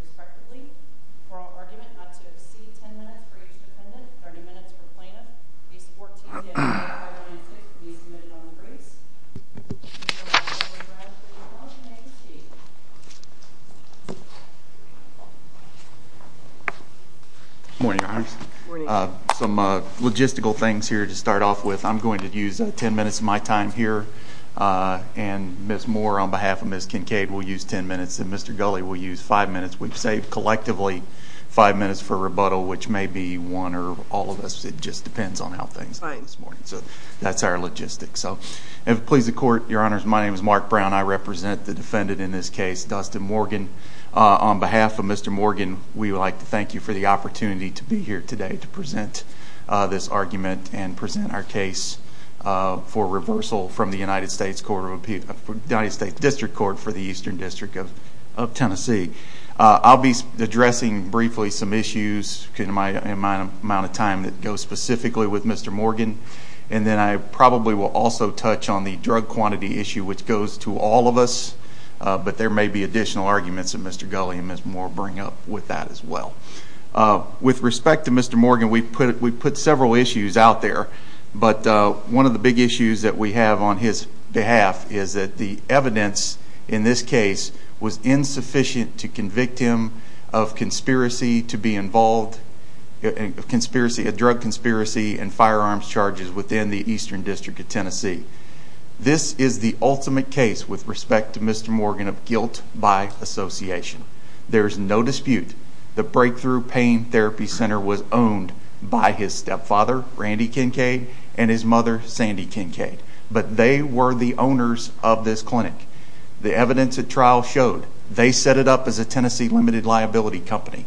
respectively, for our argument not to exceed 10 minutes for each defendant, 30 minutes for the plaintiff. These 14 defendants, 5-1-2, will be submitted on the brace. Good morning, Your Honor. Some logistical things here to start off with. I'm going to use 10 minutes of my time here. And Ms. Moore on behalf of Ms. Kincaid will use 10 minutes and Mr. Gulley will use 5 minutes. We've saved collectively 5 minutes for rebuttal, which may be one or all of us. It just depends on how things are this morning. So that's our logistics. So if it pleases the Court, Your Honors, my name is Mark Brown. I represent the defendant in this case, Dustin Morgan. On behalf of Mr. Morgan, we would like to thank you for the opportunity to be here today to present this argument and present our case for reversal from the United States District Court for the Eastern District of Tennessee. I'll be addressing briefly some issues in my amount of time that go specifically with Mr. Morgan. And then I probably will also touch on the drug quantity issue, which goes to all of us. But there may be additional arguments that Mr. Gulley and Ms. Moore bring up with that as well. With respect to Mr. Morgan, we put several issues out there. But one of the big issues that we have on his behalf is that the evidence in this case was insufficient to convict him of drug conspiracy and firearms charges within the Eastern District of Tennessee. This is the ultimate case, with respect to Mr. Morgan, of guilt by association. There is no dispute the Breakthrough Pain Therapy Center was owned by his stepfather, Randy Kincaid, and his mother, Sandy Kincaid. But they were the owners of this clinic. The evidence at trial showed they set it up as a Tennessee limited liability company.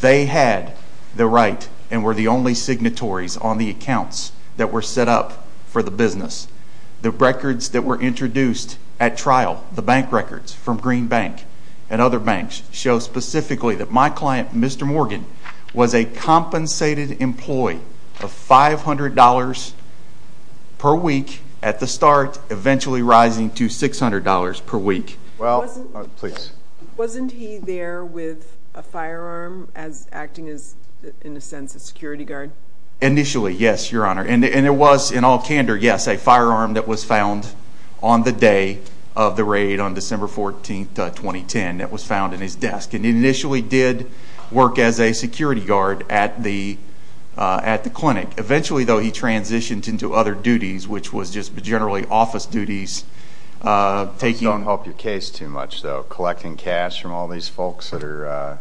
They had the right and were the only signatories on the accounts that were set up for the business. The records that were introduced at trial, the bank records from Green Bank and other banks, show specifically that my client, Mr. Morgan, was a compensated employee of $500 per week at the start, eventually rising to $600 per week. Wasn't he there with a firearm as acting as, in a sense, a security guard? Initially, yes, Your Honor. And it was, in all candor, yes, a firearm that was found on the day of the raid on December 14, 2010 that was found in his desk. And he initially did work as a security guard at the clinic. Eventually, though, he transitioned into other duties, which was just generally office duties. Those don't help your case too much, though, collecting cash from all these folks that are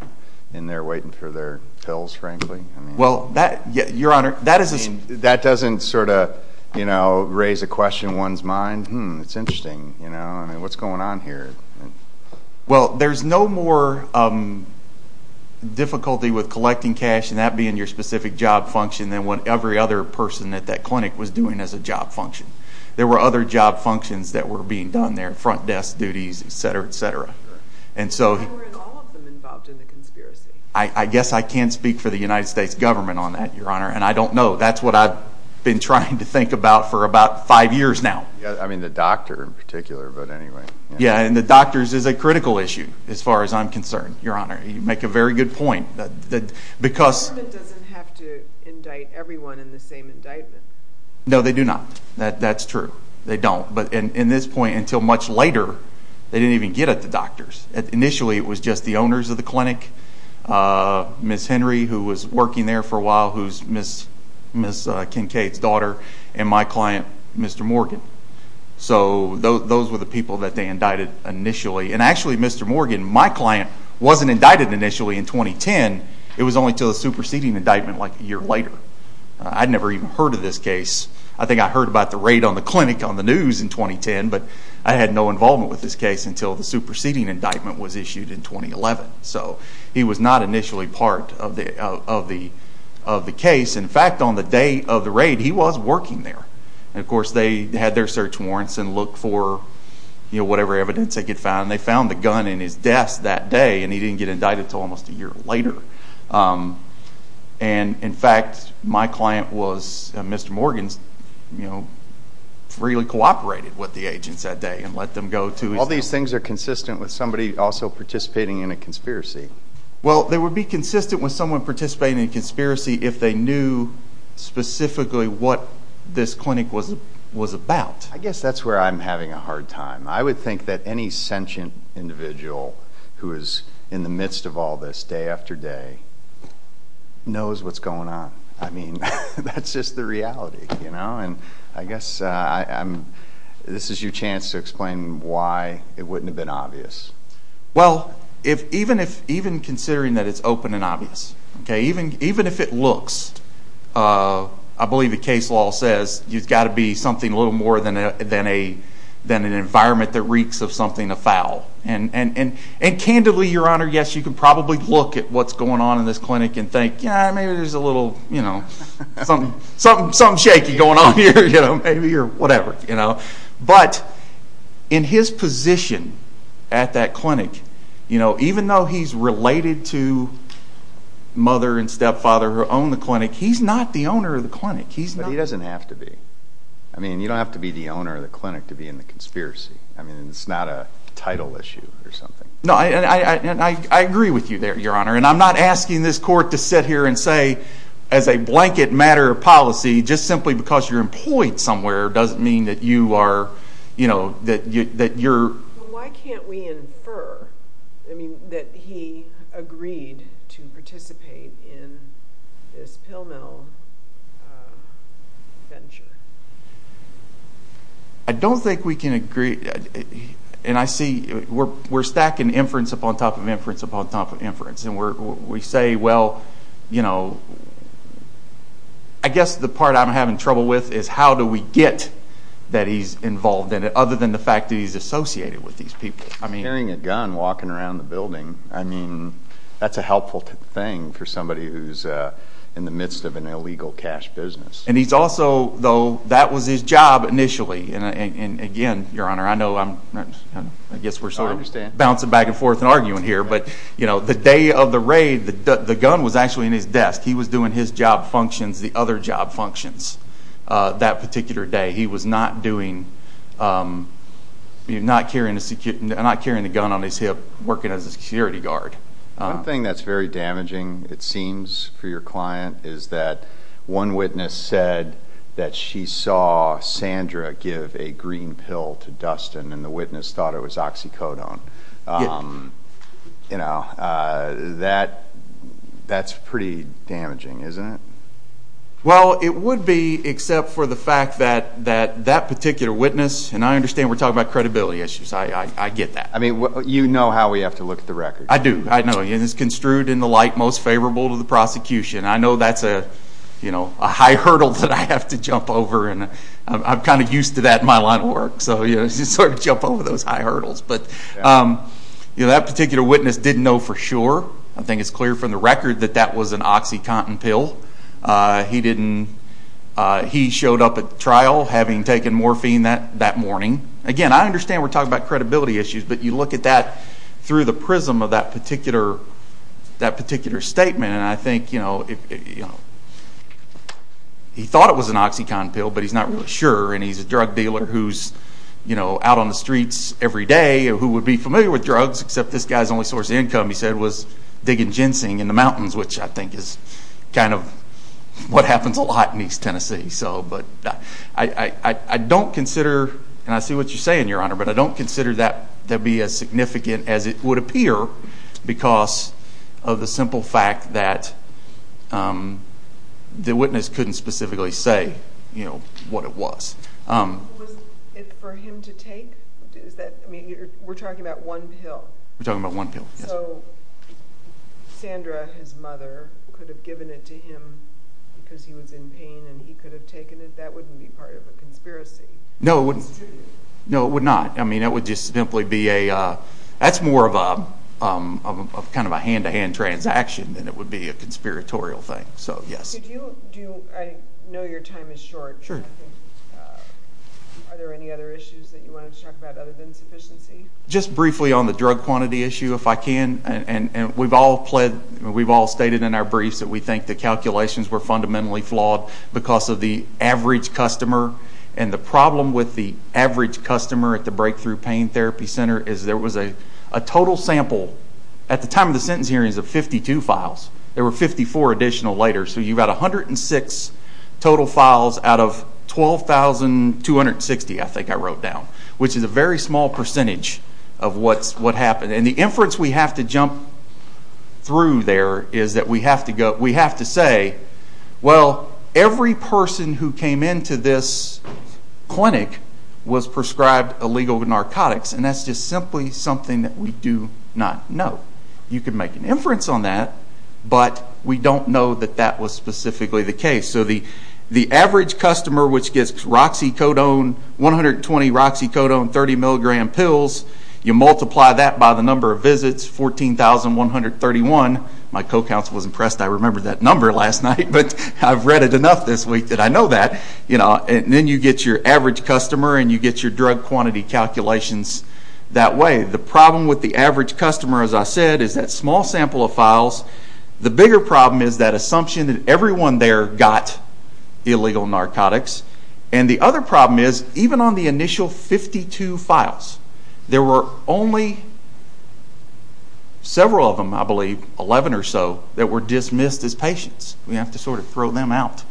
in there waiting for their pills, frankly. Well, Your Honor, that is a... That doesn't sort of raise a question in one's mind. Hmm, it's interesting. What's going on here? Well, there's no more difficulty with collecting cash, and that being your specific job function, than what every other person at that clinic was doing as a job function. There were other job functions that were being done there, front desk duties, et cetera, et cetera. How were all of them involved in the conspiracy? I guess I can't speak for the United States government on that, Your Honor, and I don't know. That's what I've been trying to think about for about five years now. I mean, the doctor in particular, but anyway. Yeah, and the doctors is a critical issue, as far as I'm concerned, Your Honor. You make a very good point. The government doesn't have to indict everyone in the same indictment. No, they do not. That's true. They don't. But in this point, until much later, they didn't even get at the doctors. Initially, it was just the owners of the clinic, Ms. Henry, who was working there for a while, who's Ms. Kincaid's daughter, and my client, Mr. Morgan. So those were the people that they indicted initially. And actually, Mr. Morgan, my client wasn't indicted initially in 2010. It was only until the superseding indictment like a year later. I'd never even heard of this case. I think I heard about the raid on the clinic on the news in 2010, but I had no involvement with this case until the superseding indictment was issued in 2011. So he was not initially part of the case. In fact, on the day of the raid, he was working there. And, of course, they had their search warrants and looked for whatever evidence they could find. They found the gun in his desk that day, and he didn't get indicted until almost a year later. And, in fact, my client was Mr. Morgan's, you know, freely cooperated with the agents that day and let them go to his house. All these things are consistent with somebody also participating in a conspiracy. Well, they would be consistent with someone participating in a conspiracy if they knew specifically what this clinic was about. I guess that's where I'm having a hard time. I would think that any sentient individual who is in the midst of all this day after day knows what's going on. I mean, that's just the reality, you know. And I guess this is your chance to explain why it wouldn't have been obvious. Well, even considering that it's open and obvious, okay, even if it looks, I believe the case law says, you've got to be something a little more than an environment that reeks of something afoul. And, candidly, Your Honor, yes, you can probably look at what's going on in this clinic and think, yeah, maybe there's a little, you know, something shaky going on here, you know, maybe, or whatever. But in his position at that clinic, you know, even though he's related to mother and stepfather who own the clinic, he's not the owner of the clinic. But he doesn't have to be. I mean, you don't have to be the owner of the clinic to be in the conspiracy. I mean, it's not a title issue or something. No, and I agree with you there, Your Honor. And I'm not asking this court to sit here and say, as a blanket matter of policy, just simply because you're employed somewhere doesn't mean that you are, you know, that you're... Why can't we infer, I mean, that he agreed to participate in this pill mill venture? I don't think we can agree. And I see we're stacking inference upon top of inference upon top of inference. And we say, well, you know, I guess the part I'm having trouble with is how do we get that he's involved in it other than the fact that he's associated with these people. I mean... Carrying a gun walking around the building, I mean, that's a helpful thing for somebody who's in the midst of an illegal cash business. And he's also, though, that was his job initially. And, again, Your Honor, I know I'm, I guess we're sort of bouncing back and forth and arguing here. But, you know, the day of the raid, the gun was actually in his desk. He was doing his job functions, the other job functions that particular day. He was not doing, not carrying a gun on his hip working as a security guard. One thing that's very damaging, it seems, for your client is that one witness said that she saw Sandra give a green pill to Dustin, and the witness thought it was oxycodone. You know, that's pretty damaging, isn't it? Well, it would be, except for the fact that that particular witness, and I understand we're talking about credibility issues. I get that. I mean, you know how we have to look at the records. I do. I know. And it's construed in the light most favorable to the prosecution. I know that's a high hurdle that I have to jump over, and I'm kind of used to that in my line of work. So, you know, it's hard to jump over those high hurdles. But, you know, that particular witness didn't know for sure. I think it's clear from the record that that was an oxycontin pill. He didn't, he showed up at the trial having taken morphine that morning. Again, I understand we're talking about credibility issues, but you look at that through the prism of that particular statement, and I think, you know, he thought it was an oxycontin pill, but he's not really sure, and he's a drug dealer who's, you know, out on the streets every day, who would be familiar with drugs, except this guy's only source of income, he said, was digging ginseng in the mountains, which I think is kind of what happens a lot in East Tennessee. So, but I don't consider, and I see what you're saying, Your Honor, but I don't consider that to be as significant as it would appear because of the simple fact that the witness couldn't specifically say, you know, what it was. Was it for him to take? Is that, I mean, we're talking about one pill. We're talking about one pill, yes. So, Sandra, his mother, could have given it to him because he was in pain and he could have taken it? That wouldn't be part of a conspiracy. No, it wouldn't. No, it would not. I mean, it would just simply be a, that's more of a kind of a hand-to-hand transaction than it would be a conspiratorial thing, so yes. Could you, do you, I know your time is short. Sure. Are there any other issues that you wanted to talk about other than sufficiency? Just briefly on the drug quantity issue, if I can, and we've all pled, we've all stated in our briefs that we think the calculations were fundamentally flawed because of the average customer, and the problem with the average customer at the Breakthrough Pain Therapy Center is there was a total sample, at the time of the sentence hearings, of 52 files. There were 54 additional later, so you've got 106 total files out of 12,260, I think I wrote down, which is a very small percentage of what happened, and the inference we have to jump through there is that we have to go, we have to say, well, every person who came into this clinic was prescribed illegal narcotics, and that's just simply something that we do not know. You can make an inference on that, but we don't know that that was specifically the case. So the average customer, which gets Roxycodone, 120 Roxycodone, 30 milligram pills, you multiply that by the number of visits, 14,131. My co-counsel was impressed I remembered that number last night, but I've read it enough this week that I know that. And then you get your average customer, and you get your drug quantity calculations that way. The problem with the average customer, as I said, is that small sample of files. The bigger problem is that assumption that everyone there got illegal narcotics. And the other problem is, even on the initial 52 files, there were only several of them, I believe, 11 or so, that were dismissed as patients. We have to sort of throw them out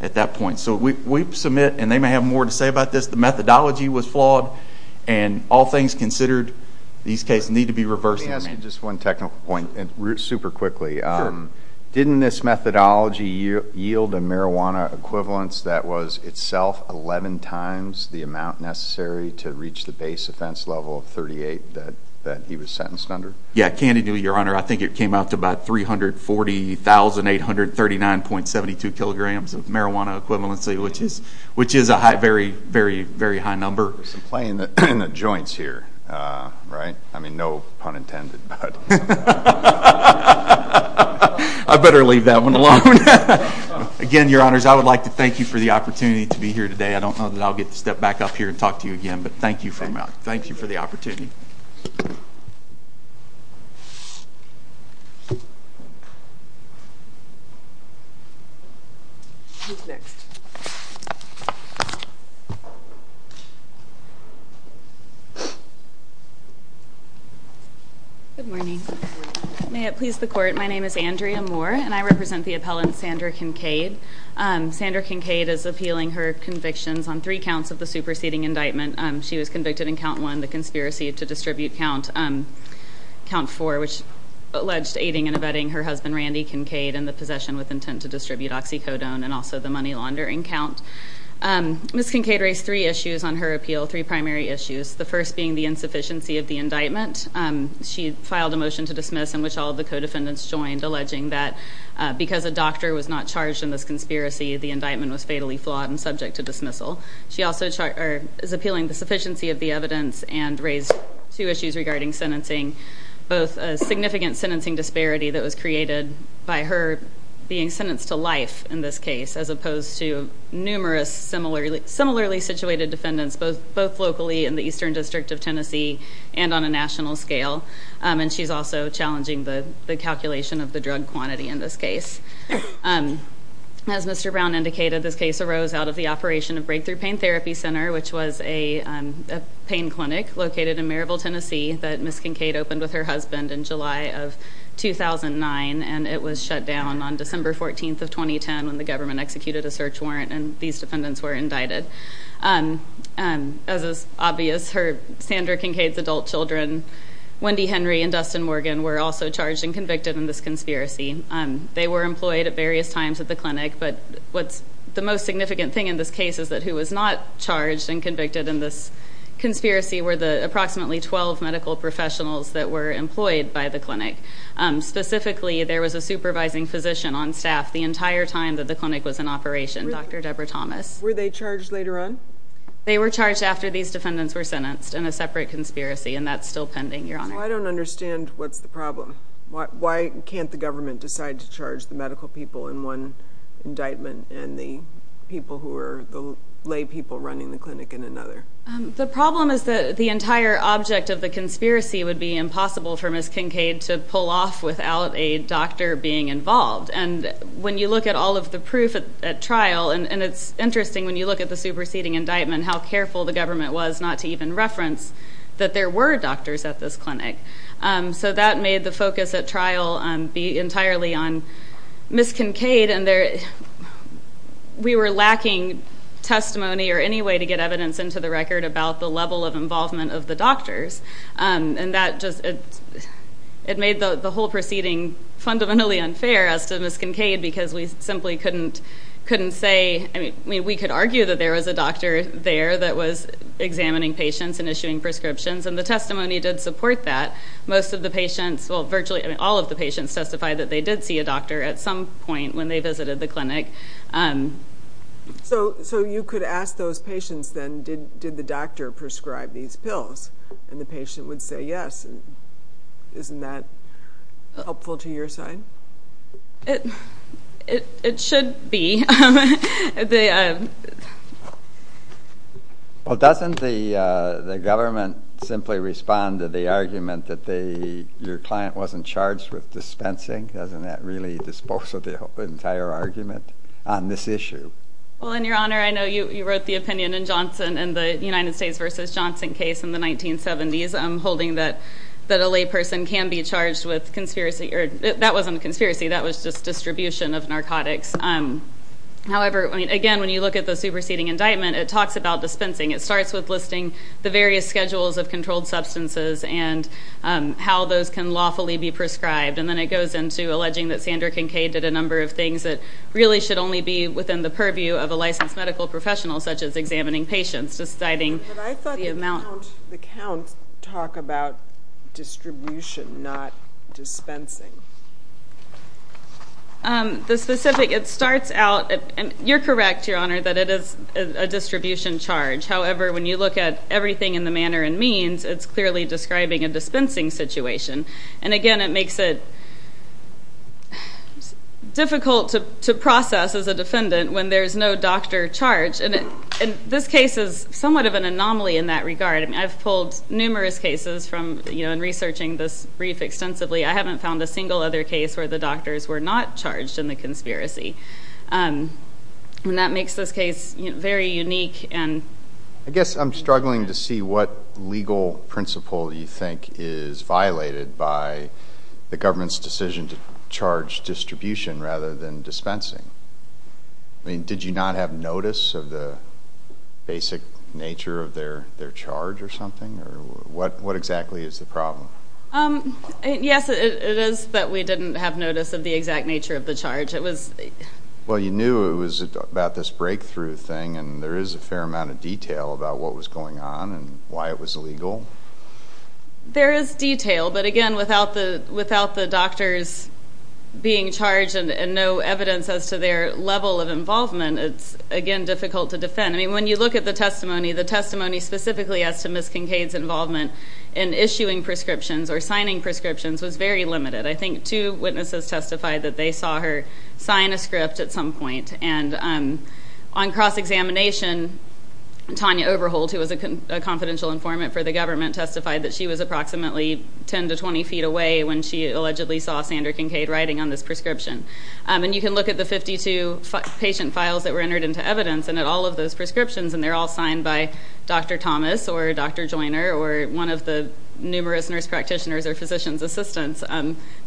at that point. So we submit, and they may have more to say about this, the methodology was flawed, and all things considered, these cases need to be reversed. Let me ask you just one technical point, and super quickly. Didn't this methodology yield a marijuana equivalence that was itself 11 times the amount necessary to reach the base offense level of 38 that he was sentenced under? Yeah, candidly, Your Honor, I think it came out to about 340,839.72 kilograms of marijuana equivalency, which is a very, very, very high number. There's some play in the joints here, right? I mean, no pun intended. I better leave that one alone. Again, Your Honors, I would like to thank you for the opportunity to be here today. I don't know that I'll get to step back up here and talk to you again, but thank you for the opportunity. Thank you. Who's next? Good morning. May it please the Court, my name is Andrea Moore, and I represent the appellant Sandra Kincaid. Sandra Kincaid is appealing her convictions on three counts of the superseding indictment. She was convicted in count one, the conspiracy to distribute count, count four, which alleged aiding and abetting her husband, Randy Kincaid, and the possession with intent to distribute oxycodone, and also the money laundering count. Ms. Kincaid raised three issues on her appeal, three primary issues, the first being the insufficiency of the indictment. She filed a motion to dismiss in which all of the co-defendants joined, alleging that because a doctor was not charged in this conspiracy, the indictment was fatally flawed and subject to dismissal. She also is appealing the sufficiency of the evidence and raised two issues regarding sentencing, both a significant sentencing disparity that was created by her being sentenced to life in this case, as opposed to numerous similarly situated defendants, both locally in the eastern district of Tennessee and on a national scale. And she's also challenging the calculation of the drug quantity in this case. As Mr. Brown indicated, this case arose out of the operation of Breakthrough Pain Therapy Center, which was a pain clinic located in Maryville, Tennessee, that Ms. Kincaid opened with her husband in July of 2009, and it was shut down on December 14th of 2010 when the government executed a search warrant and these defendants were indicted. As is obvious, Sandra Kincaid's adult children, Wendy Henry and Dustin Morgan, were also charged and convicted in this conspiracy. They were employed at various times at the clinic, but the most significant thing in this case is that who was not charged and convicted in this conspiracy were the approximately 12 medical professionals that were employed by the clinic. Specifically, there was a supervising physician on staff the entire time that the clinic was in operation, Dr. Deborah Thomas. Were they charged later on? They were charged after these defendants were sentenced in a separate conspiracy, and that's still pending, Your Honor. Well, I don't understand what's the problem. Why can't the government decide to charge the medical people in one indictment and the people who are the lay people running the clinic in another? The problem is that the entire object of the conspiracy would be impossible for Ms. Kincaid to pull off without a doctor being involved, and when you look at all of the proof at trial, and it's interesting when you look at the superseding indictment, and how careful the government was not to even reference that there were doctors at this clinic, so that made the focus at trial be entirely on Ms. Kincaid, and we were lacking testimony or any way to get evidence into the record about the level of involvement of the doctors, and it made the whole proceeding fundamentally unfair as to Ms. Kincaid because we simply couldn't say, I mean, we could argue that there was a doctor there that was examining patients and issuing prescriptions, and the testimony did support that. Most of the patients, well, virtually all of the patients testified that they did see a doctor at some point when they visited the clinic. So you could ask those patients then, did the doctor prescribe these pills, and the patient would say yes. Isn't that helpful to your side? It should be. Well, doesn't the government simply respond to the argument that your client wasn't charged with dispensing? Doesn't that really dispose of the entire argument on this issue? Well, in your honor, I know you wrote the opinion in Johnson in the United States v. Johnson case in the 1970s, holding that a layperson can be charged with conspiracy. That wasn't a conspiracy. That was just distribution of narcotics. However, again, when you look at the superseding indictment, it talks about dispensing. It starts with listing the various schedules of controlled substances and how those can lawfully be prescribed, and then it goes into alleging that Sandra Kincaid did a number of things that really should only be within the purview of a licensed medical professional, such as examining patients, deciding the amount. Doesn't the count talk about distribution, not dispensing? The specific, it starts out, and you're correct, your honor, that it is a distribution charge. However, when you look at everything in the manner and means, it's clearly describing a dispensing situation. And again, it makes it difficult to process as a defendant when there's no doctor charge. And this case is somewhat of an anomaly in that regard. I mean, I've pulled numerous cases from, you know, in researching this brief extensively. I haven't found a single other case where the doctors were not charged in the conspiracy. And that makes this case very unique. I guess I'm struggling to see what legal principle you think is violated by the government's decision to charge distribution rather than dispensing. I mean, did you not have notice of the basic nature of their charge or something? What exactly is the problem? Yes, it is that we didn't have notice of the exact nature of the charge. Well, you knew it was about this breakthrough thing, and there is a fair amount of detail about what was going on and why it was illegal. There is detail. But again, without the doctors being charged and no evidence as to their level of involvement, it's, again, difficult to defend. I mean, when you look at the testimony, the testimony specifically as to Ms. Kincaid's involvement in issuing prescriptions or signing prescriptions was very limited. I think two witnesses testified that they saw her sign a script at some point. And on cross-examination, Tanya Overholt, who was a confidential informant for the government, testified that she was approximately 10 to 20 feet away when she allegedly saw Sandra Kincaid writing on this prescription. And you can look at the 52 patient files that were entered into evidence and at all of those prescriptions, and they're all signed by Dr. Thomas or Dr. Joyner or one of the numerous nurse practitioners or physician's assistants.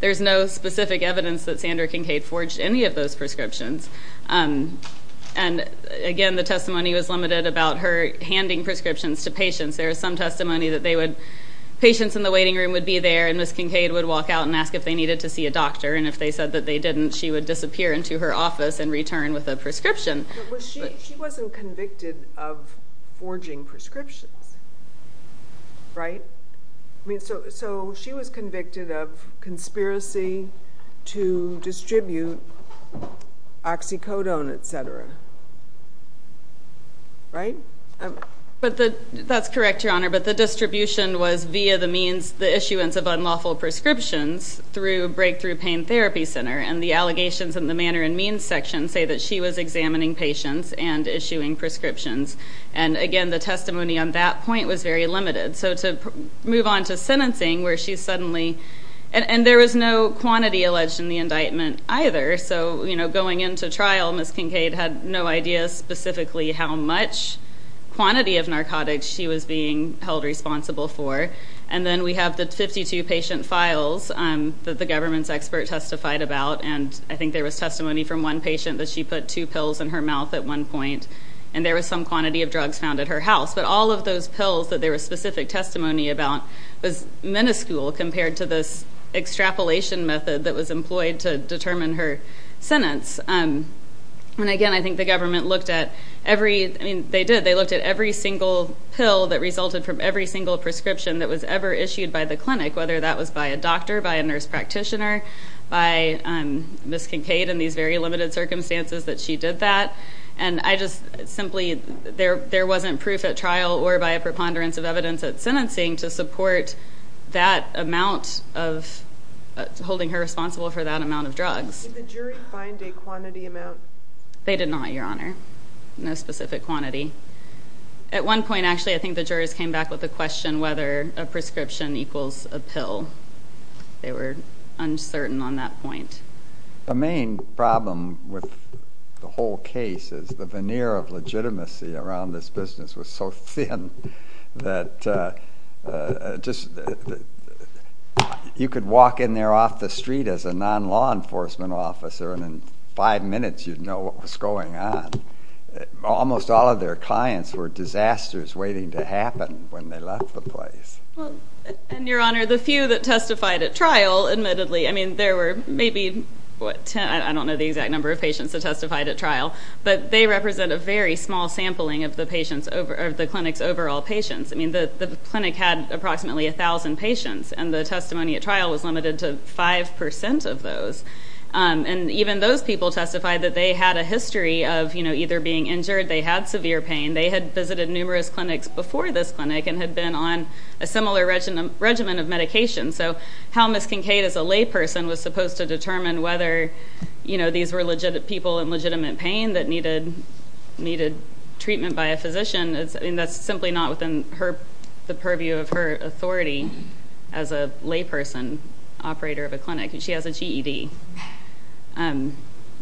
There's no specific evidence that Sandra Kincaid forged any of those prescriptions. And again, the testimony was limited about her handing prescriptions to patients. There is some testimony that patients in the waiting room would be there, and Ms. Kincaid would walk out and ask if they needed to see a doctor, and if they said that they didn't, she would disappear into her office and return with a prescription. But she wasn't convicted of forging prescriptions, right? So she was convicted of conspiracy to distribute oxycodone, et cetera, right? That's correct, Your Honor, but the distribution was via the means, the issuance of unlawful prescriptions through Breakthrough Pain Therapy Center, and the allegations in the manner and means section say that she was examining patients and issuing prescriptions. And again, the testimony on that point was very limited. So to move on to sentencing where she suddenly – and there was no quantity alleged in the indictment either. So going into trial, Ms. Kincaid had no idea specifically how much quantity of narcotics she was being held responsible for. And then we have the 52 patient files that the government's expert testified about, and I think there was testimony from one patient that she put two pills in her mouth at one point, and there was some quantity of drugs found at her house. But all of those pills that there was specific testimony about was minuscule compared to this extrapolation method that was employed to determine her sentence. And again, I think the government looked at every – I mean, they did. They looked at every single pill that resulted from every single prescription that was ever issued by the clinic, whether that was by a doctor, by a nurse practitioner, by Ms. Kincaid in these very limited circumstances that she did that. And I just simply – there wasn't proof at trial or by a preponderance of evidence at sentencing to support that amount of holding her responsible for that amount of drugs. Did the jury find a quantity amount? They did not, Your Honor, no specific quantity. At one point, actually, I think the jurors came back with a question whether a prescription equals a pill. They were uncertain on that point. The main problem with the whole case is the veneer of legitimacy around this business was so thin that just – you could walk in there off the street as a non-law enforcement officer, and in five minutes you'd know what was going on. Almost all of their clients were disasters waiting to happen when they left the place. And, Your Honor, the few that testified at trial, admittedly, I mean, there were maybe, what, I don't know the exact number of patients that testified at trial, but they represent a very small sampling of the clinic's overall patients. I mean, the clinic had approximately 1,000 patients, and the testimony at trial was limited to 5% of those. And even those people testified that they had a history of either being injured, they had severe pain, they had visited numerous clinics before this clinic and had been on a similar regimen of medication. So how Ms. Kincaid, as a layperson, was supposed to determine whether, you know, these were people in legitimate pain that needed treatment by a physician, I mean, that's simply not within the purview of her authority as a layperson operator of a clinic. She has a GED, and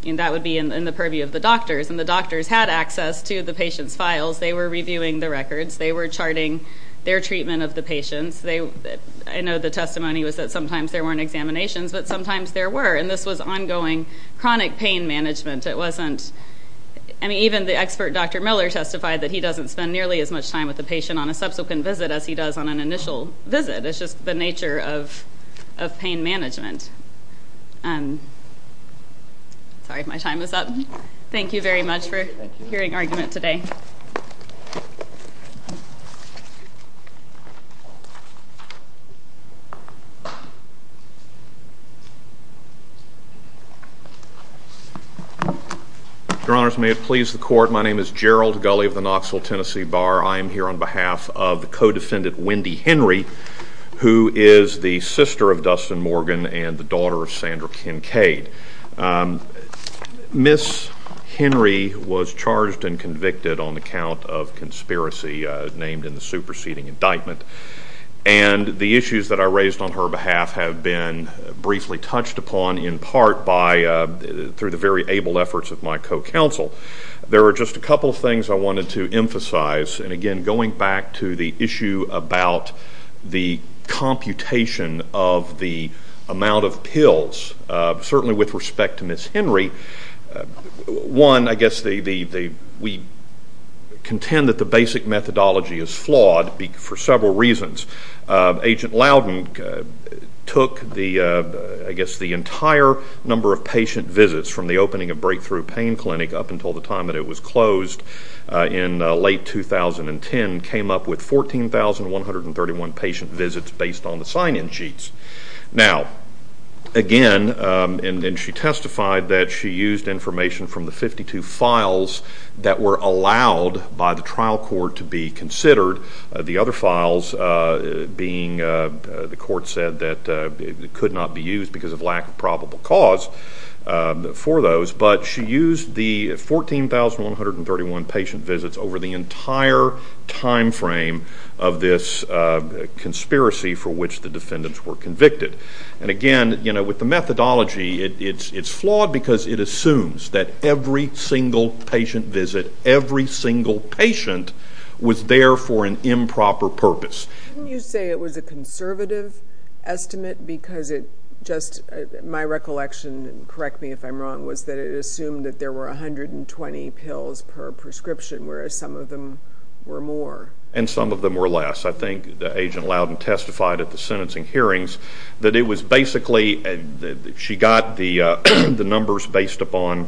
that would be in the purview of the doctors. And the doctors had access to the patient's files. They were reviewing the records. They were charting their treatment of the patients. I know the testimony was that sometimes there weren't examinations, but sometimes there were, and this was ongoing chronic pain management. It wasn't, I mean, even the expert Dr. Miller testified that he doesn't spend nearly as much time with the patient on a subsequent visit as he does on an initial visit. It's just the nature of pain management. Sorry, my time is up. Thank you very much for hearing argument today. Your Honors, may it please the Court. My name is Gerald Gulley of the Knoxville, Tennessee Bar. I am here on behalf of the co-defendant Wendy Henry, who is the sister of Dustin Morgan and the daughter of Sandra Kincaid. Ms. Henry was charged and convicted on account of conspiracy named in the superseding indictment, and the issues that I raised on her behalf have been briefly touched upon in part by, through the very able efforts of my co-counsel. There are just a couple of things I wanted to emphasize, and again, going back to the issue about the computation of the amount of pills, certainly with respect to Ms. Henry, one, I guess we contend that the basic methodology is flawed for several reasons. Agent Loudon took, I guess, the entire number of patient visits from the opening of Breakthrough Pain Clinic up until the time that it was closed in late 2010, came up with 14,131 patient visits based on the sign-in sheets. Now, again, and she testified that she used information from the 52 files that were allowed by the trial court to be considered, the other files being the court said that could not be used because of lack of probable cause for those, but she used the 14,131 patient visits over the entire time frame of this conspiracy for which the defendants were convicted. And again, with the methodology, it's flawed because it assumes that every single patient visit, every single patient was there for an improper purpose. Couldn't you say it was a conservative estimate because it just, my recollection, correct me if I'm wrong, was that it assumed that there were 120 pills per prescription, whereas some of them were more? And some of them were less. I think Agent Loudon testified at the sentencing hearings that it was basically, she got the numbers based upon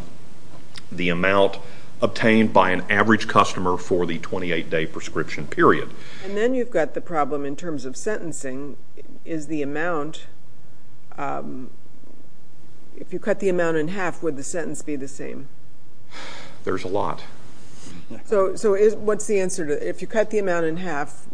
the amount obtained by an average customer for the 28-day prescription period. And then you've got the problem in terms of sentencing. Is the amount, if you cut the amount in half, would the sentence be the same? There's a lot. So what's the answer to that? If you cut the amount in half,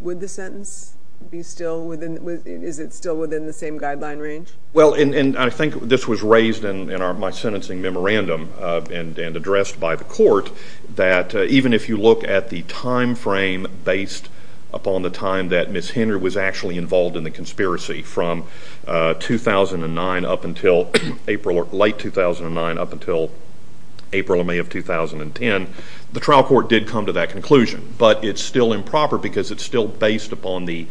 would the sentence be still within, is it still within the same guideline range? Well, and I think this was raised in my sentencing memorandum and addressed by the court, that even if you look at the time frame based upon the time that Ms. Henry was actually involved in the conspiracy, from 2009 up until April or late 2009 up until April or May of 2010, the trial court did come to that conclusion. But it's still improper because it's still based upon the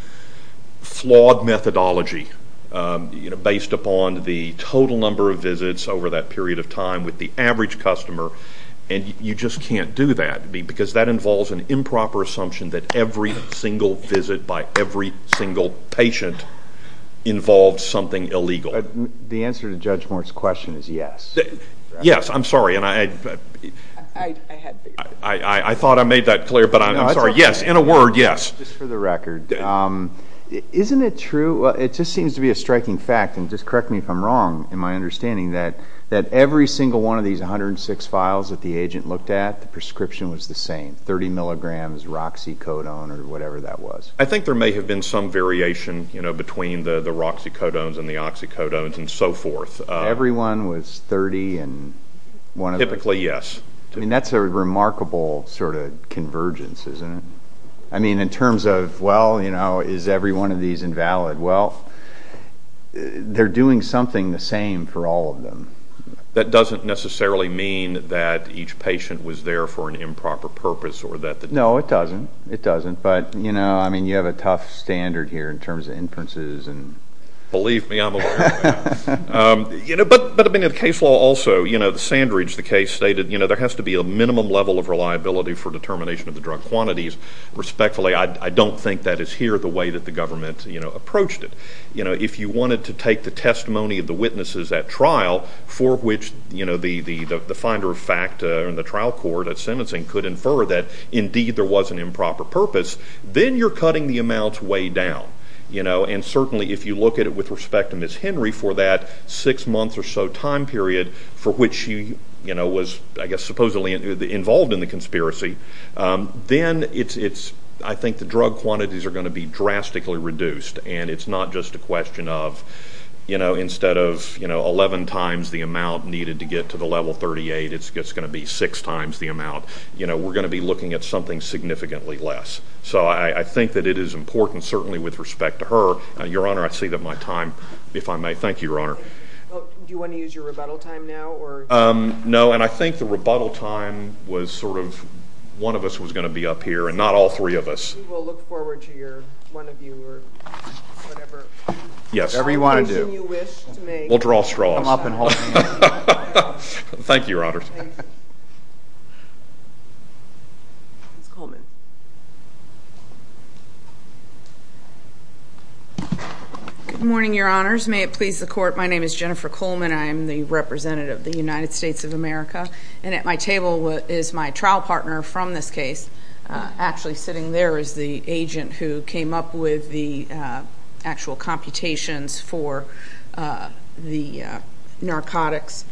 flawed methodology, based upon the total number of visits over that period of time with the average customer, and you just can't do that because that involves an improper assumption that every single visit by every single patient involves something illegal. The answer to Judge Moore's question is yes. Yes, I'm sorry, and I thought I made that clear, but I'm sorry. Yes, in a word, yes. Just for the record, isn't it true? It just seems to be a striking fact, and just correct me if I'm wrong in my understanding, that every single one of these 106 files that the agent looked at, the prescription was the same, 30 milligrams roxicodone or whatever that was. I think there may have been some variation between the roxicodones and the oxycodones and so forth. Every one was 30 and one of them? Typically, yes. I mean, that's a remarkable sort of convergence, isn't it? I mean, in terms of, well, is every one of these invalid? Well, they're doing something the same for all of them. That doesn't necessarily mean that each patient was there for an improper purpose. No, it doesn't. It doesn't. But, you know, I mean, you have a tough standard here in terms of inferences. Believe me, I'm aware of that. But, I mean, in the case law also, you know, the Sandridge, the case stated, you know, there has to be a minimum level of reliability for determination of the drug quantities. Respectfully, I don't think that is here the way that the government approached it. You know, if you wanted to take the testimony of the witnesses at trial for which, you know, the finder of fact in the trial court at sentencing could infer that, indeed, there was an improper purpose, then you're cutting the amounts way down. You know, and certainly if you look at it with respect to Ms. Henry for that six months or so time period for which she, you know, was, I guess, supposedly involved in the conspiracy, then it's, I think the drug quantities are going to be drastically reduced and it's not just a question of, you know, instead of, you know, 11 times the amount needed to get to the level 38, it's going to be six times the amount. You know, we're going to be looking at something significantly less. So, I think that it is important, certainly with respect to her. Your Honor, I see that my time, if I may. Thank you, Your Honor. Do you want to use your rebuttal time now? No, and I think the rebuttal time was sort of one of us was going to be up here and not all three of us. We will look forward to your, one of your, whatever. Yes. Whatever you want to do. We'll draw straws. Thank you, Your Honor. Ms. Coleman. Good morning, Your Honors. May it please the Court, my name is Jennifer Coleman. I am the representative of the United States of America, and at my table is my trial partner from this case. Actually sitting there is the agent who came up with the actual computations for the narcotics.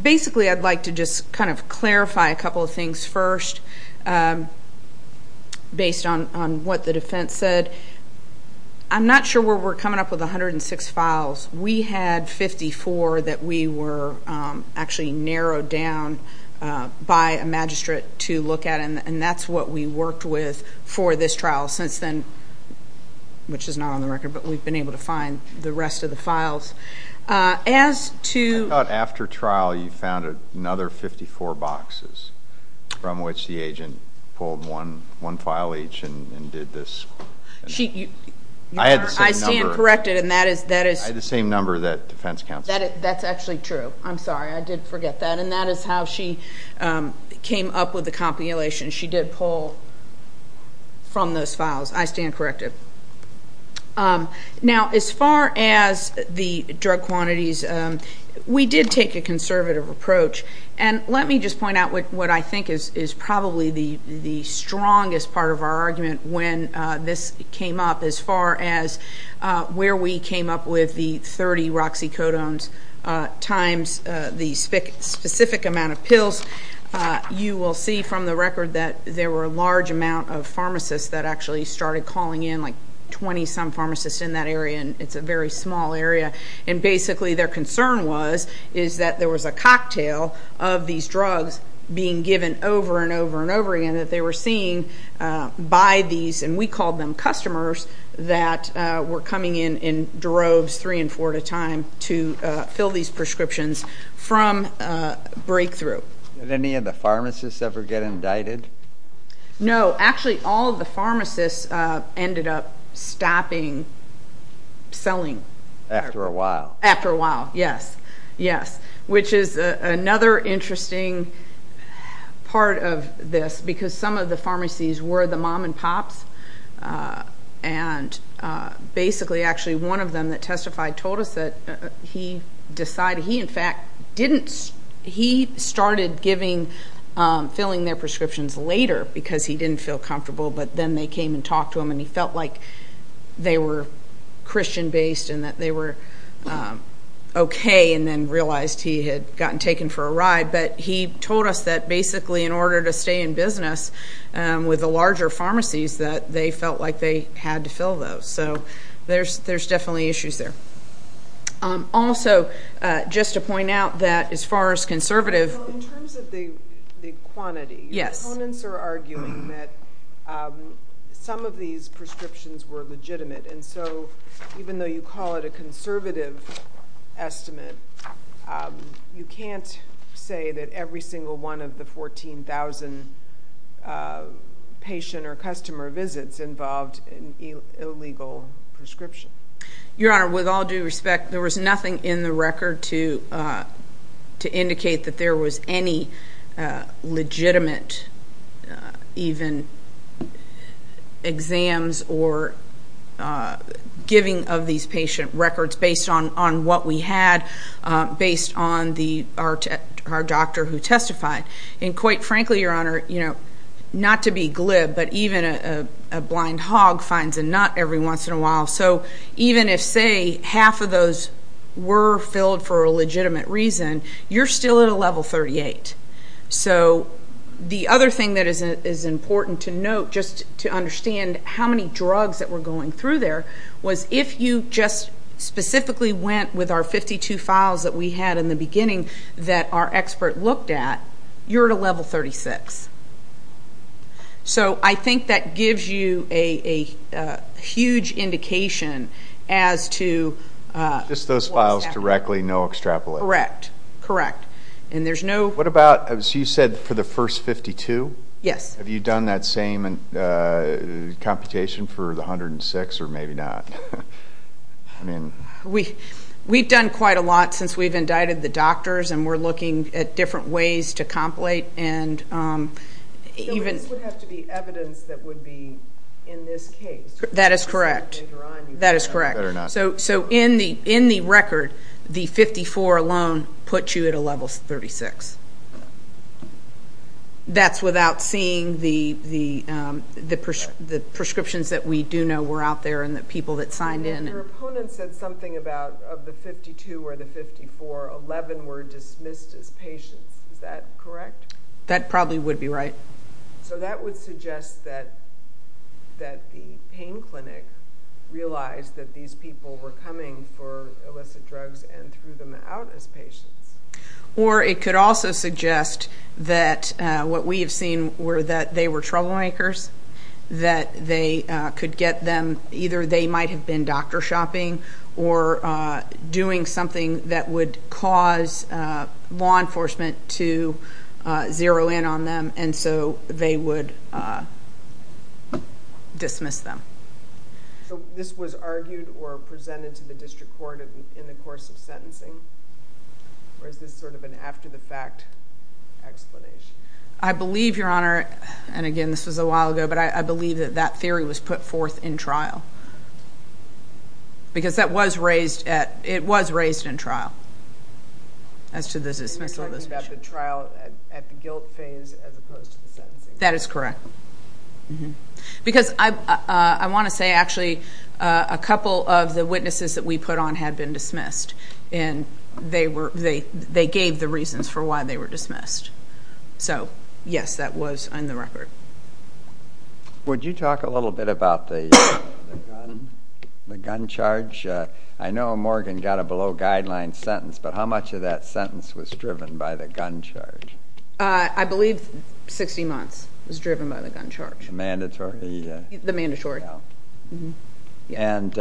Basically, I'd like to just kind of clarify a couple of things first based on what the defense said. I'm not sure where we're coming up with 106 files. We had 54 that we were actually narrowed down by a magistrate to look at, and that's what we worked with for this trial since then, which is not on the record, but we've been able to find the rest of the files. As to... I thought after trial you found another 54 boxes from which the agent pulled one file each and did this. I stand corrected, and that is... I had the same number that defense counsel... That's actually true. I'm sorry, I did forget that. And that is how she came up with the compilations. She did pull from those files. I stand corrected. Now, as far as the drug quantities, we did take a conservative approach, and let me just point out what I think is probably the strongest part of our argument when this came up. As far as where we came up with the 30 roxicodones times the specific amount of pills, you will see from the record that there were a large amount of pharmacists that actually started calling in, like 20-some pharmacists in that area, and it's a very small area. And basically their concern was that there was a cocktail of these drugs being given over and over and over again that they were seeing by these, and we called them customers, that were coming in droves three and four at a time to fill these prescriptions from breakthrough. Did any of the pharmacists ever get indicted? No. Actually, all of the pharmacists ended up stopping selling. After a while. After a while, yes. Yes, which is another interesting part of this because some of the pharmacies were the mom and pops, and basically actually one of them that testified told us that he decided he, in fact, didn't. He started filling their prescriptions later because he didn't feel comfortable, but then they came and talked to him, and he felt like they were Christian-based and that they were okay and then realized he had gotten taken for a ride. But he told us that basically in order to stay in business with the larger pharmacies, that they felt like they had to fill those. So there's definitely issues there. Also, just to point out that as far as conservative. In terms of the quantity, opponents are arguing that some of these prescriptions were legitimate, and so even though you call it a conservative estimate, you can't say that every single one of the 14,000 patient or customer visits involved an illegal prescription. Your Honor, with all due respect, there was nothing in the record to indicate that there was any legitimate even exams or giving of these patient records based on what we had, based on our doctor who testified. And quite frankly, Your Honor, not to be glib, but even a blind hog finds a nut every once in a while. So even if, say, half of those were filled for a legitimate reason, you're still at a level 38. So the other thing that is important to note, just to understand how many drugs that were going through there, was if you just specifically went with our 52 files that we had in the beginning that our expert looked at, you're at a level 36. So I think that gives you a huge indication as to what was happening. Just those files directly, no extrapolation? Correct. What about, as you said, for the first 52? Yes. Have you done that same computation for the 106 or maybe not? We've done quite a lot since we've indicted the doctors, and we're looking at different ways to complete. So this would have to be evidence that would be in this case? That is correct. That is correct. So in the record, the 54 alone puts you at a level 36. That's without seeing the prescriptions that we do know were out there and the people that signed in. Your opponent said something about of the 52 or the 54, 11 were dismissed as patients. Is that correct? That probably would be right. So that would suggest that the pain clinic realized that these people were coming for illicit drugs and threw them out as patients. Or it could also suggest that what we have seen were that they were troublemakers, that they could get them either they might have been doctor shopping or doing something that would cause law enforcement to zero in on them, and so they would dismiss them. So this was argued or presented to the district court in the course of sentencing? Or is this sort of an after-the-fact explanation? I believe, Your Honor, and, again, this was a while ago, but I believe that that theory was put forth in trial. Because it was raised in trial as to the dismissal of this patient. You're talking about the trial at the guilt phase as opposed to the sentencing phase? That is correct. Because I want to say, actually, a couple of the witnesses that we put on had been dismissed, and they gave the reasons for why they were dismissed. So, yes, that was on the record. Would you talk a little bit about the gun charge? I know Morgan got a below-guideline sentence, but how much of that sentence was driven by the gun charge? I believe 60 months was driven by the gun charge. The mandatory? The mandatory. And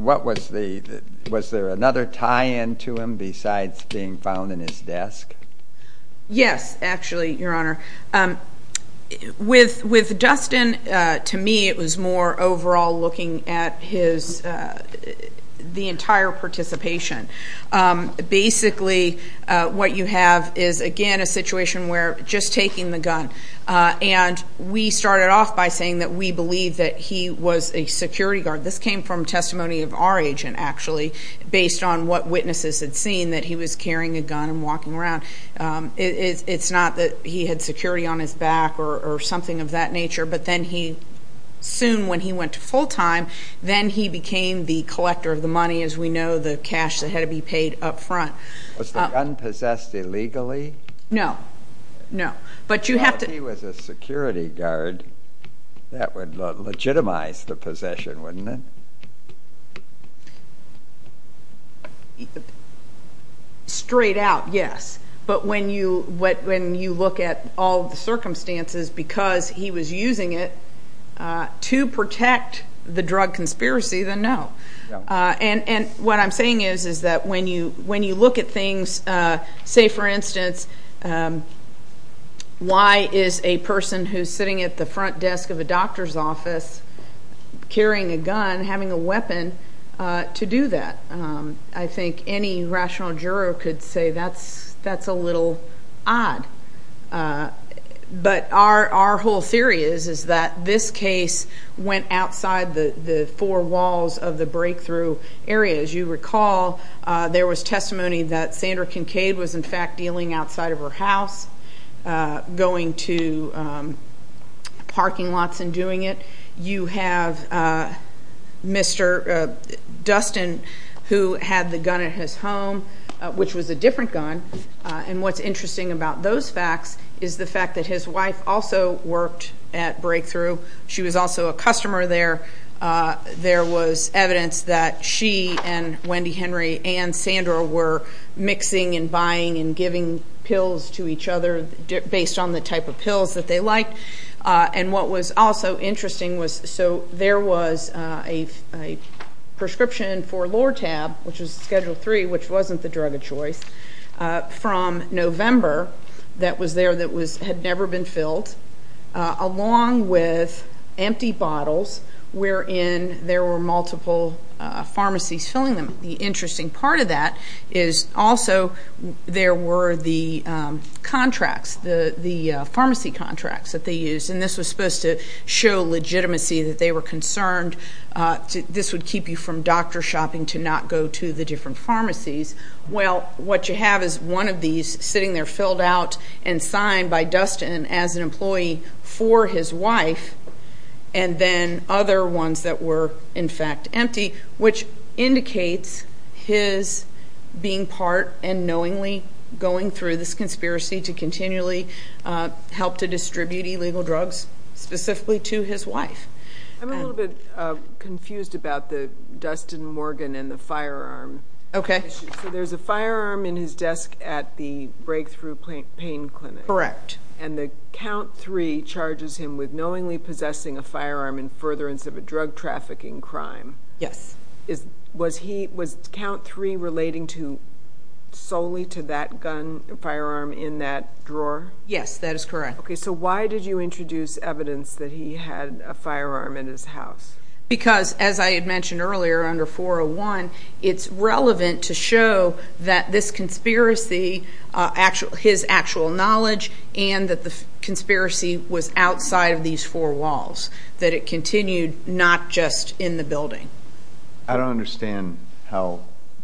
was there another tie-in to him besides being found in his desk? Yes, actually, Your Honor. With Dustin, to me, it was more overall looking at the entire participation. Basically, what you have is, again, a situation where just taking the gun. And we started off by saying that we believe that he was a security guard. This came from testimony of our agent, actually, based on what witnesses had seen, that he was carrying a gun and walking around. It's not that he had security on his back or something of that nature, but then he soon, when he went to full-time, then he became the collector of the money, as we know, the cash that had to be paid up front. Was the gun possessed illegally? No. If he was a security guard, that would legitimize the possession, wouldn't it? Straight out, yes. But when you look at all the circumstances, because he was using it to protect the drug conspiracy, then no. And what I'm saying is that when you look at things, say, for instance, why is a person who's sitting at the front desk of a doctor's office carrying a gun having a weapon to do that? I think any rational juror could say that's a little odd. But our whole theory is that this case went outside the four walls of the breakthrough area. As you recall, there was testimony that Sandra Kincaid was, in fact, dealing outside of her house, going to parking lots and doing it. You have Mr. Dustin, who had the gun at his home, which was a different gun. And what's interesting about those facts is the fact that his wife also worked at Breakthrough. She was also a customer there. There was evidence that she and Wendy Henry and Sandra were mixing and buying and giving pills to each other based on the type of pills that they liked. And what was also interesting was so there was a prescription for Lortab, which was Schedule III, which wasn't the drug of choice, from November, that was there that had never been filled, along with empty bottles, wherein there were multiple pharmacies filling them. The interesting part of that is also there were the contracts, the pharmacy contracts that they used. And this was supposed to show legitimacy, that they were concerned this would keep you from doctor shopping to not go to the different pharmacies. Well, what you have is one of these sitting there filled out and signed by Dustin as an employee for his wife, and then other ones that were, in fact, empty, which indicates his being part and knowingly going through this conspiracy to continually help to distribute illegal drugs specifically to his wife. I'm a little bit confused about the Dustin Morgan and the firearm. Okay. So there's a firearm in his desk at the Breakthrough Pain Clinic. Correct. And the Count III charges him with knowingly possessing a firearm in furtherance of a drug trafficking crime. Yes. Was Count III relating solely to that gun, a firearm in that drawer? Yes, that is correct. Okay. So why did you introduce evidence that he had a firearm in his house? Because, as I had mentioned earlier, under 401, it's relevant to show that this conspiracy, his actual knowledge, and that the conspiracy was outside of these four walls, that it continued not just in the building. I don't understand how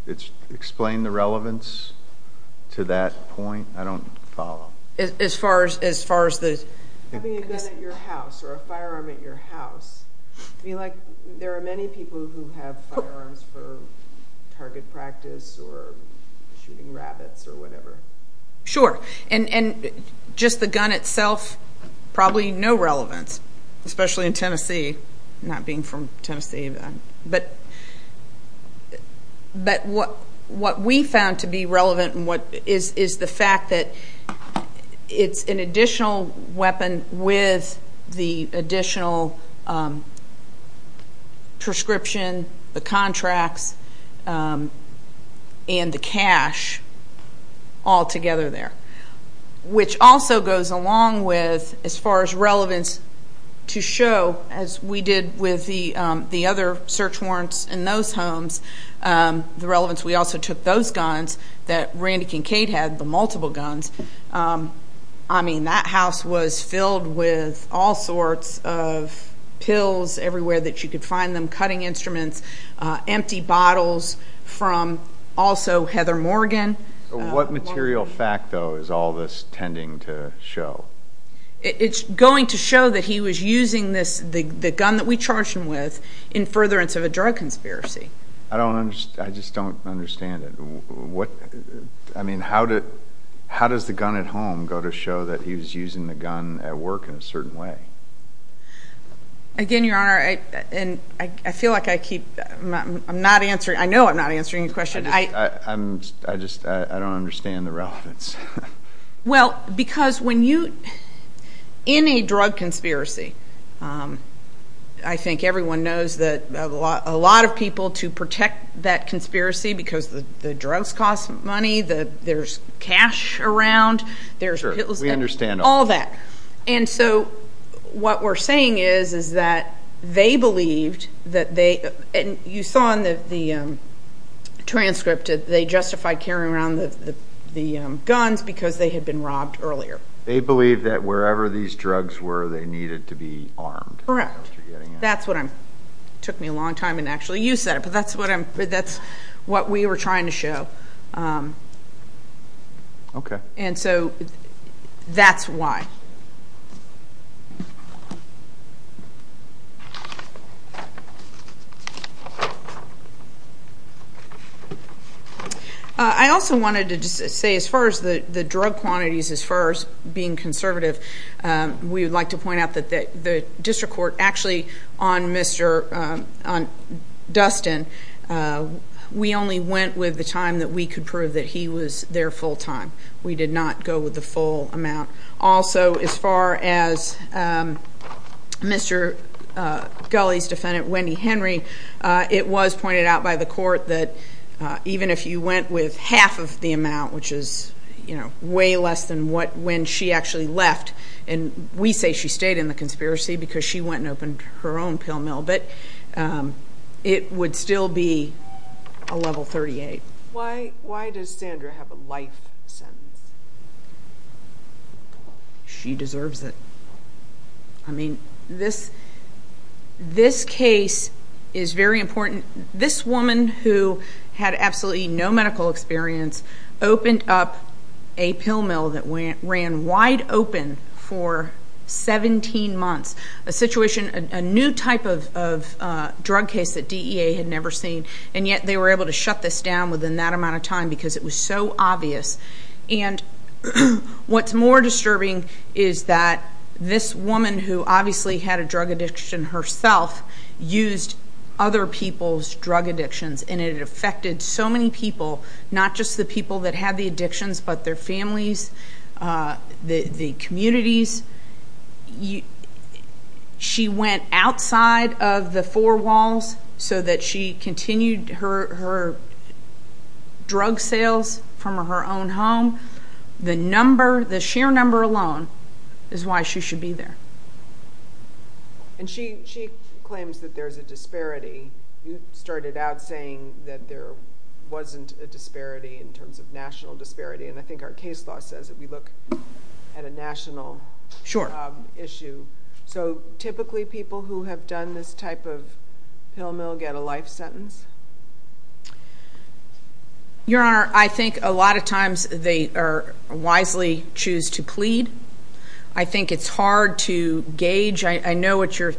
it's explained the relevance to that point. I don't follow. As far as the— Having a gun at your house or a firearm at your house, there are many people who have firearms for target practice or shooting rabbits or whatever. Sure. And just the gun itself, probably no relevance, especially in Tennessee, not being from Tennessee. But what we found to be relevant is the fact that it's an additional weapon with the additional prescription, the contracts, and the cash all together there, which also goes along with, as far as relevance to show, as we did with the other search warrants in those homes, the relevance we also took those guns that Randy Kincaid had, the multiple guns. I mean, that house was filled with all sorts of pills everywhere that you could find them, cutting instruments, empty bottles from also Heather Morgan. What material fact, though, is all this tending to show? It's going to show that he was using the gun that we charged him with in furtherance of a drug conspiracy. I just don't understand it. I mean, how does the gun at home go to show that he was using the gun at work in a certain way? Again, Your Honor, I feel like I keep—I know I'm not answering your question. I just don't understand the relevance. Well, because when you—in a drug conspiracy, I think everyone knows that a lot of people to protect that conspiracy because the drugs cost money, there's cash around, there's pills. All that. And so what we're saying is that they believed that they—and you saw in the transcript that they justified carrying around the guns because they had been robbed earlier. They believed that wherever these drugs were, they needed to be armed. Correct. That's what I'm—it took me a long time to actually use that, but that's what we were trying to show. Okay. And so that's why. I also wanted to just say as far as the drug quantities as far as being conservative, we would like to point out that the district court actually on Dustin, we only went with the time that we could prove that he was there full time. We did not go with the full amount. Also, as far as Mr. Gulley's defendant, Wendy Henry, it was pointed out by the court that even if you went with half of the amount, which is way less than when she actually left, and we say she stayed in the conspiracy because she went and opened her own pill mill, but it would still be a level 38. Why does Sandra have a life sentence? She deserves it. I mean, this case is very important. This woman who had absolutely no medical experience opened up a pill mill that ran wide open for 17 months, a situation, a new type of drug case that DEA had never seen, and yet they were able to shut this down within that amount of time because it was so obvious. And what's more disturbing is that this woman who obviously had a drug addiction herself used other people's drug addictions, and it affected so many people, not just the people that had the addictions, but their families, the communities. She went outside of the four walls so that she continued her drug sales from her own home. The number, the sheer number alone, is why she should be there. And she claims that there's a disparity. You started out saying that there wasn't a disparity in terms of national disparity, and I think our case law says that we look at a national issue. So typically people who have done this type of pill mill get a life sentence? Your Honor, I think a lot of times they wisely choose to plead. I think it's hard to gauge. I know what you're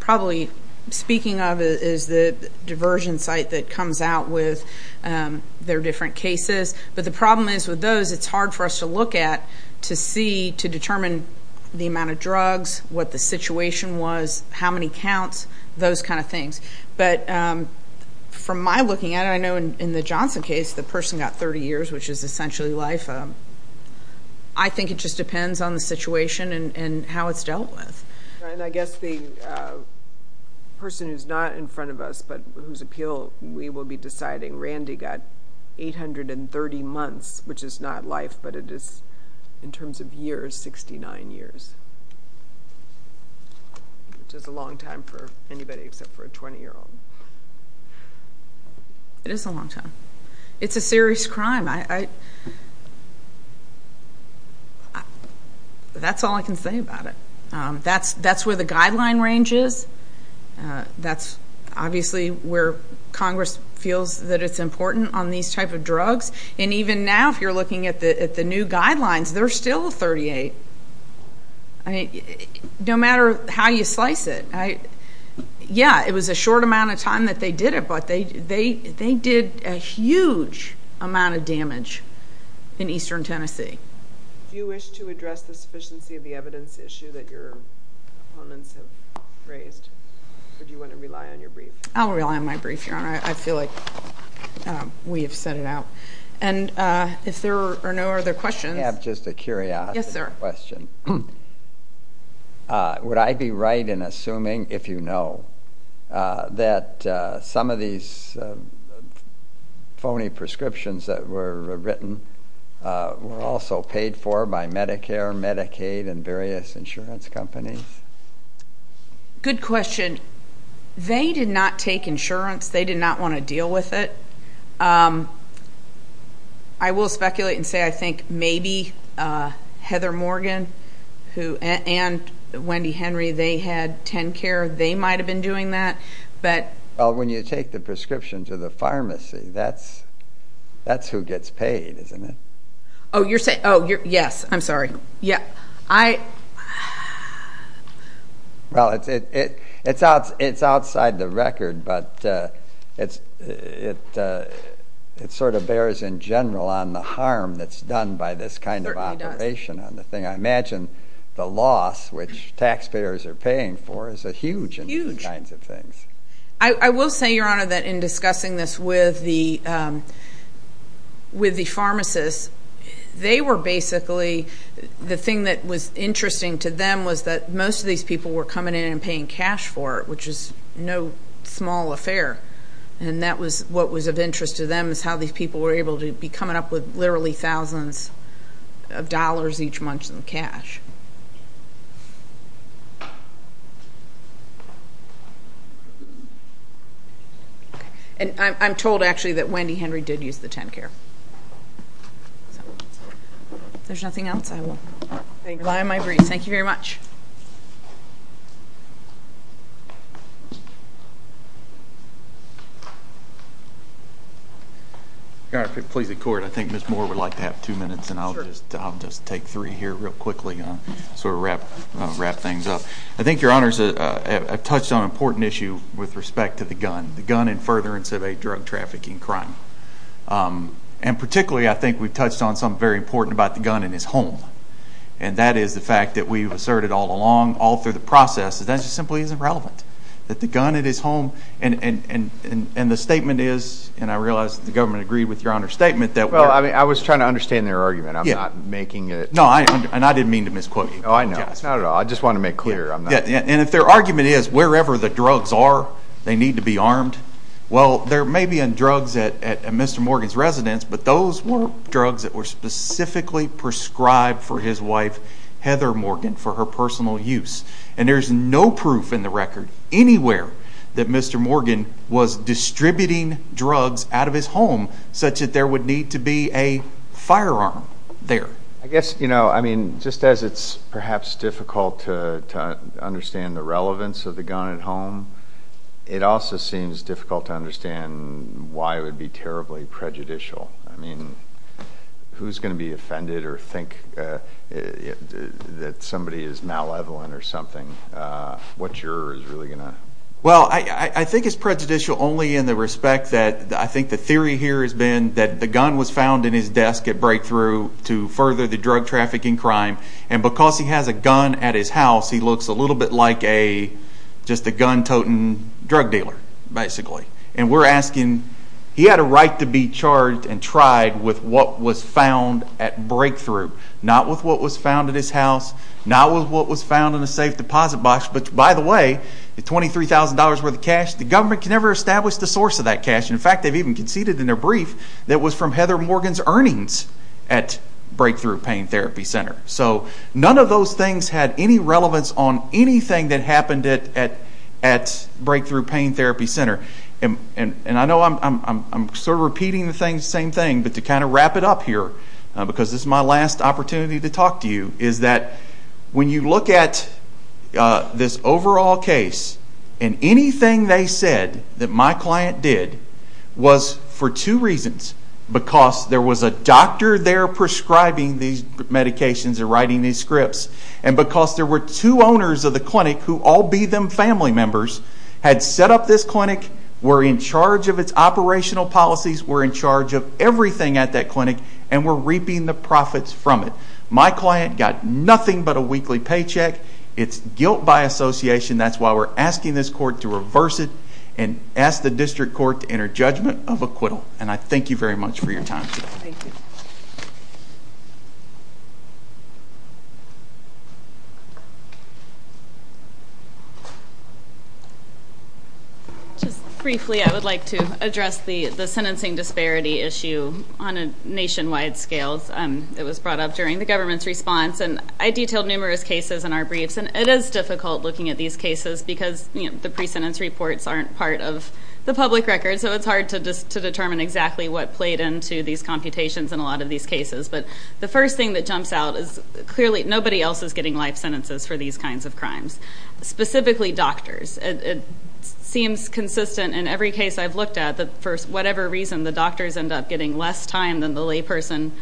probably speaking of is the diversion site that comes out with their different cases, but the problem is with those it's hard for us to look at to see, to determine the amount of drugs, what the situation was, how many counts, those kind of things. But from my looking at it, I know in the Johnson case the person got 30 years, which is essentially life. I think it just depends on the situation and how it's dealt with. I guess the person who's not in front of us but whose appeal we will be deciding, Randy got 830 months, which is not life, but it is in terms of years, 69 years, which is a long time for anybody except for a 20-year-old. It is a long time. It's a serious crime. That's all I can say about it. That's where the guideline range is. That's obviously where Congress feels that it's important on these type of drugs. And even now, if you're looking at the new guidelines, they're still 38, no matter how you slice it. Yeah, it was a short amount of time that they did it, but they did a huge amount of damage in eastern Tennessee. Do you wish to address the sufficiency of the evidence issue that your opponents have raised, or do you want to rely on your brief? I'll rely on my brief, Your Honor. I feel like we have set it out. And if there are no other questions. I have just a curiosity. Yes, sir. I have a question. Would I be right in assuming, if you know, that some of these phony prescriptions that were written were also paid for by Medicare, Medicaid, and various insurance companies? Good question. They did not take insurance. They did not want to deal with it. I will speculate and say I think maybe Heather Morgan and Wendy Henry, they had TennCare. They might have been doing that. Well, when you take the prescription to the pharmacy, that's who gets paid, isn't it? Oh, yes. I'm sorry. Well, it's outside the record, but it sort of bears in general on the harm that's done by this kind of operation on the thing. I imagine the loss, which taxpayers are paying for, is huge in these kinds of things. I will say, Your Honor, that in discussing this with the pharmacists, they were basically the thing that was interesting to them was that most of these people were coming in and paying cash for it, which is no small affair. And that was what was of interest to them is how these people were able to be coming up with literally thousands of dollars each month in cash. And I'm told, actually, that Wendy Henry did use the TennCare. If there's nothing else, I will rely on my briefs. Thank you very much. Your Honor, if it pleases the Court, I think Ms. Moore would like to have two minutes, and I'll just take three here real quickly. I'll sort of wrap things up. I think Your Honor has touched on an important issue with respect to the gun, the gun and furtherance of a drug trafficking crime. And particularly, I think we've touched on something very important about the gun in his home, and that is the fact that we've asserted all along, all through the process, that that just simply isn't relevant, that the gun in his home, and the statement is, and I realize that the government agreed with Your Honor's statement that we're Well, I was trying to understand their argument. I'm not making it No, and I didn't mean to misquote you. Oh, I know. It's not at all. I just wanted to make clear. And if their argument is, wherever the drugs are, they need to be armed, well, there may be drugs at Mr. Morgan's residence, but those were drugs that were specifically prescribed for his wife, Heather Morgan, for her personal use. And there's no proof in the record anywhere that Mr. Morgan was distributing drugs out of his home such that there would need to be a firearm there. I guess, you know, I mean, just as it's perhaps difficult to understand the relevance of the gun at home, it also seems difficult to understand why it would be terribly prejudicial. I mean, who's going to be offended or think that somebody is malevolent or something? What juror is really going to Well, I think it's prejudicial only in the respect that I think the theory here has been that the gun was found in his desk at Breakthrough to further the drug trafficking crime. And because he has a gun at his house, he looks a little bit like just a gun-toting drug dealer, basically. And we're asking, he had a right to be charged and tried with what was found at Breakthrough, not with what was found at his house, not with what was found in a safe deposit box. But, by the way, the $23,000 worth of cash, the government can never establish the source of that cash. In fact, they've even conceded in their brief that it was from Heather Morgan's earnings at Breakthrough Pain Therapy Center. So none of those things had any relevance on anything that happened at Breakthrough Pain Therapy Center. And I know I'm sort of repeating the same thing, but to kind of wrap it up here, because this is my last opportunity to talk to you, is that when you look at this overall case and anything they said that my client did was for two reasons. Because there was a doctor there prescribing these medications and writing these scripts, and because there were two owners of the clinic who, all be them family members, had set up this clinic, were in charge of its operational policies, were in charge of everything at that clinic, and were reaping the profits from it. My client got nothing but a weekly paycheck. It's guilt by association. That's why we're asking this court to reverse it and ask the district court to enter judgment of acquittal. And I thank you very much for your time today. Thank you. Just briefly, I would like to address the sentencing disparity issue on a nationwide scale. It was brought up during the government's response, and I detailed numerous cases in our briefs, and it is difficult looking at these cases because the pre-sentence reports aren't part of the public record, so it's hard to determine exactly what played into these computations in a lot of these cases. But the first thing that jumps out is clearly nobody else is getting life sentences for these kinds of crimes, specifically doctors. It seems consistent in every case I've looked at that for whatever reason the doctors end up getting less time than the layperson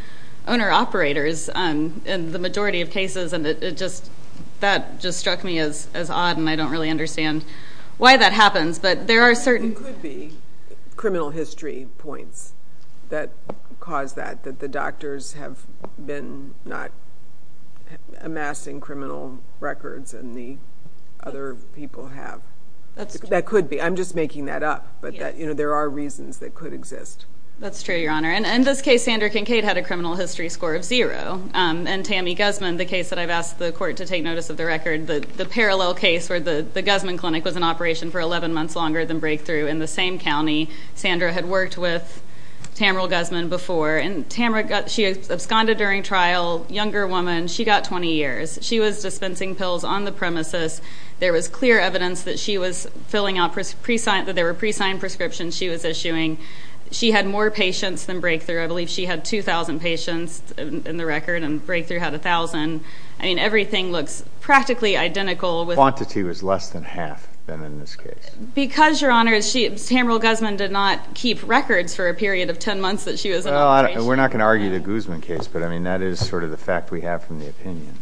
owner-operators in the majority of cases, and that just struck me as odd, and I don't really understand why that happens. There could be criminal history points that cause that, that the doctors have been not amassing criminal records and the other people have. That could be. I'm just making that up, but there are reasons that could exist. That's true, Your Honor. In this case, Sandra Kincaid had a criminal history score of zero, and Tammy Guzman, the case that I've asked the court to take notice of the record, the parallel case where the Guzman Clinic was in operation for 11 months longer than Breakthrough in the same county, Sandra had worked with Tamara Guzman before, and she absconded during trial, younger woman, she got 20 years. She was dispensing pills on the premises. There was clear evidence that there were pre-signed prescriptions she was issuing. She had more patients than Breakthrough. I believe she had 2,000 patients in the record and Breakthrough had 1,000. I mean, everything looks practically identical. The quantity was less than half in this case. Because, Your Honor, Tamara Guzman did not keep records for a period of 10 months that she was in operation. Well, we're not going to argue the Guzman case, but that is sort of the fact we have from the opinion.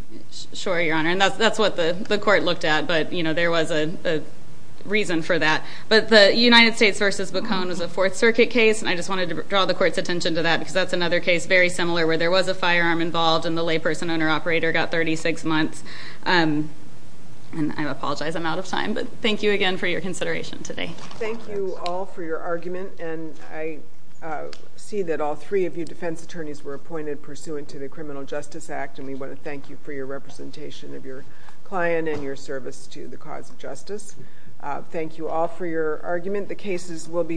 Sure, Your Honor, and that's what the court looked at, but there was a reason for that. But the United States v. Bacone was a Fourth Circuit case, and I just wanted to draw the court's attention to that because that's another case very similar where there was a firearm involved and the layperson-owner-operator got 36 months. And I apologize, I'm out of time, but thank you again for your consideration today. Thank you all for your argument, and I see that all three of you defense attorneys were appointed pursuant to the Criminal Justice Act, and we want to thank you for your representation of your client and your service to the cause of justice. Thank you all for your argument. The cases will be submitted.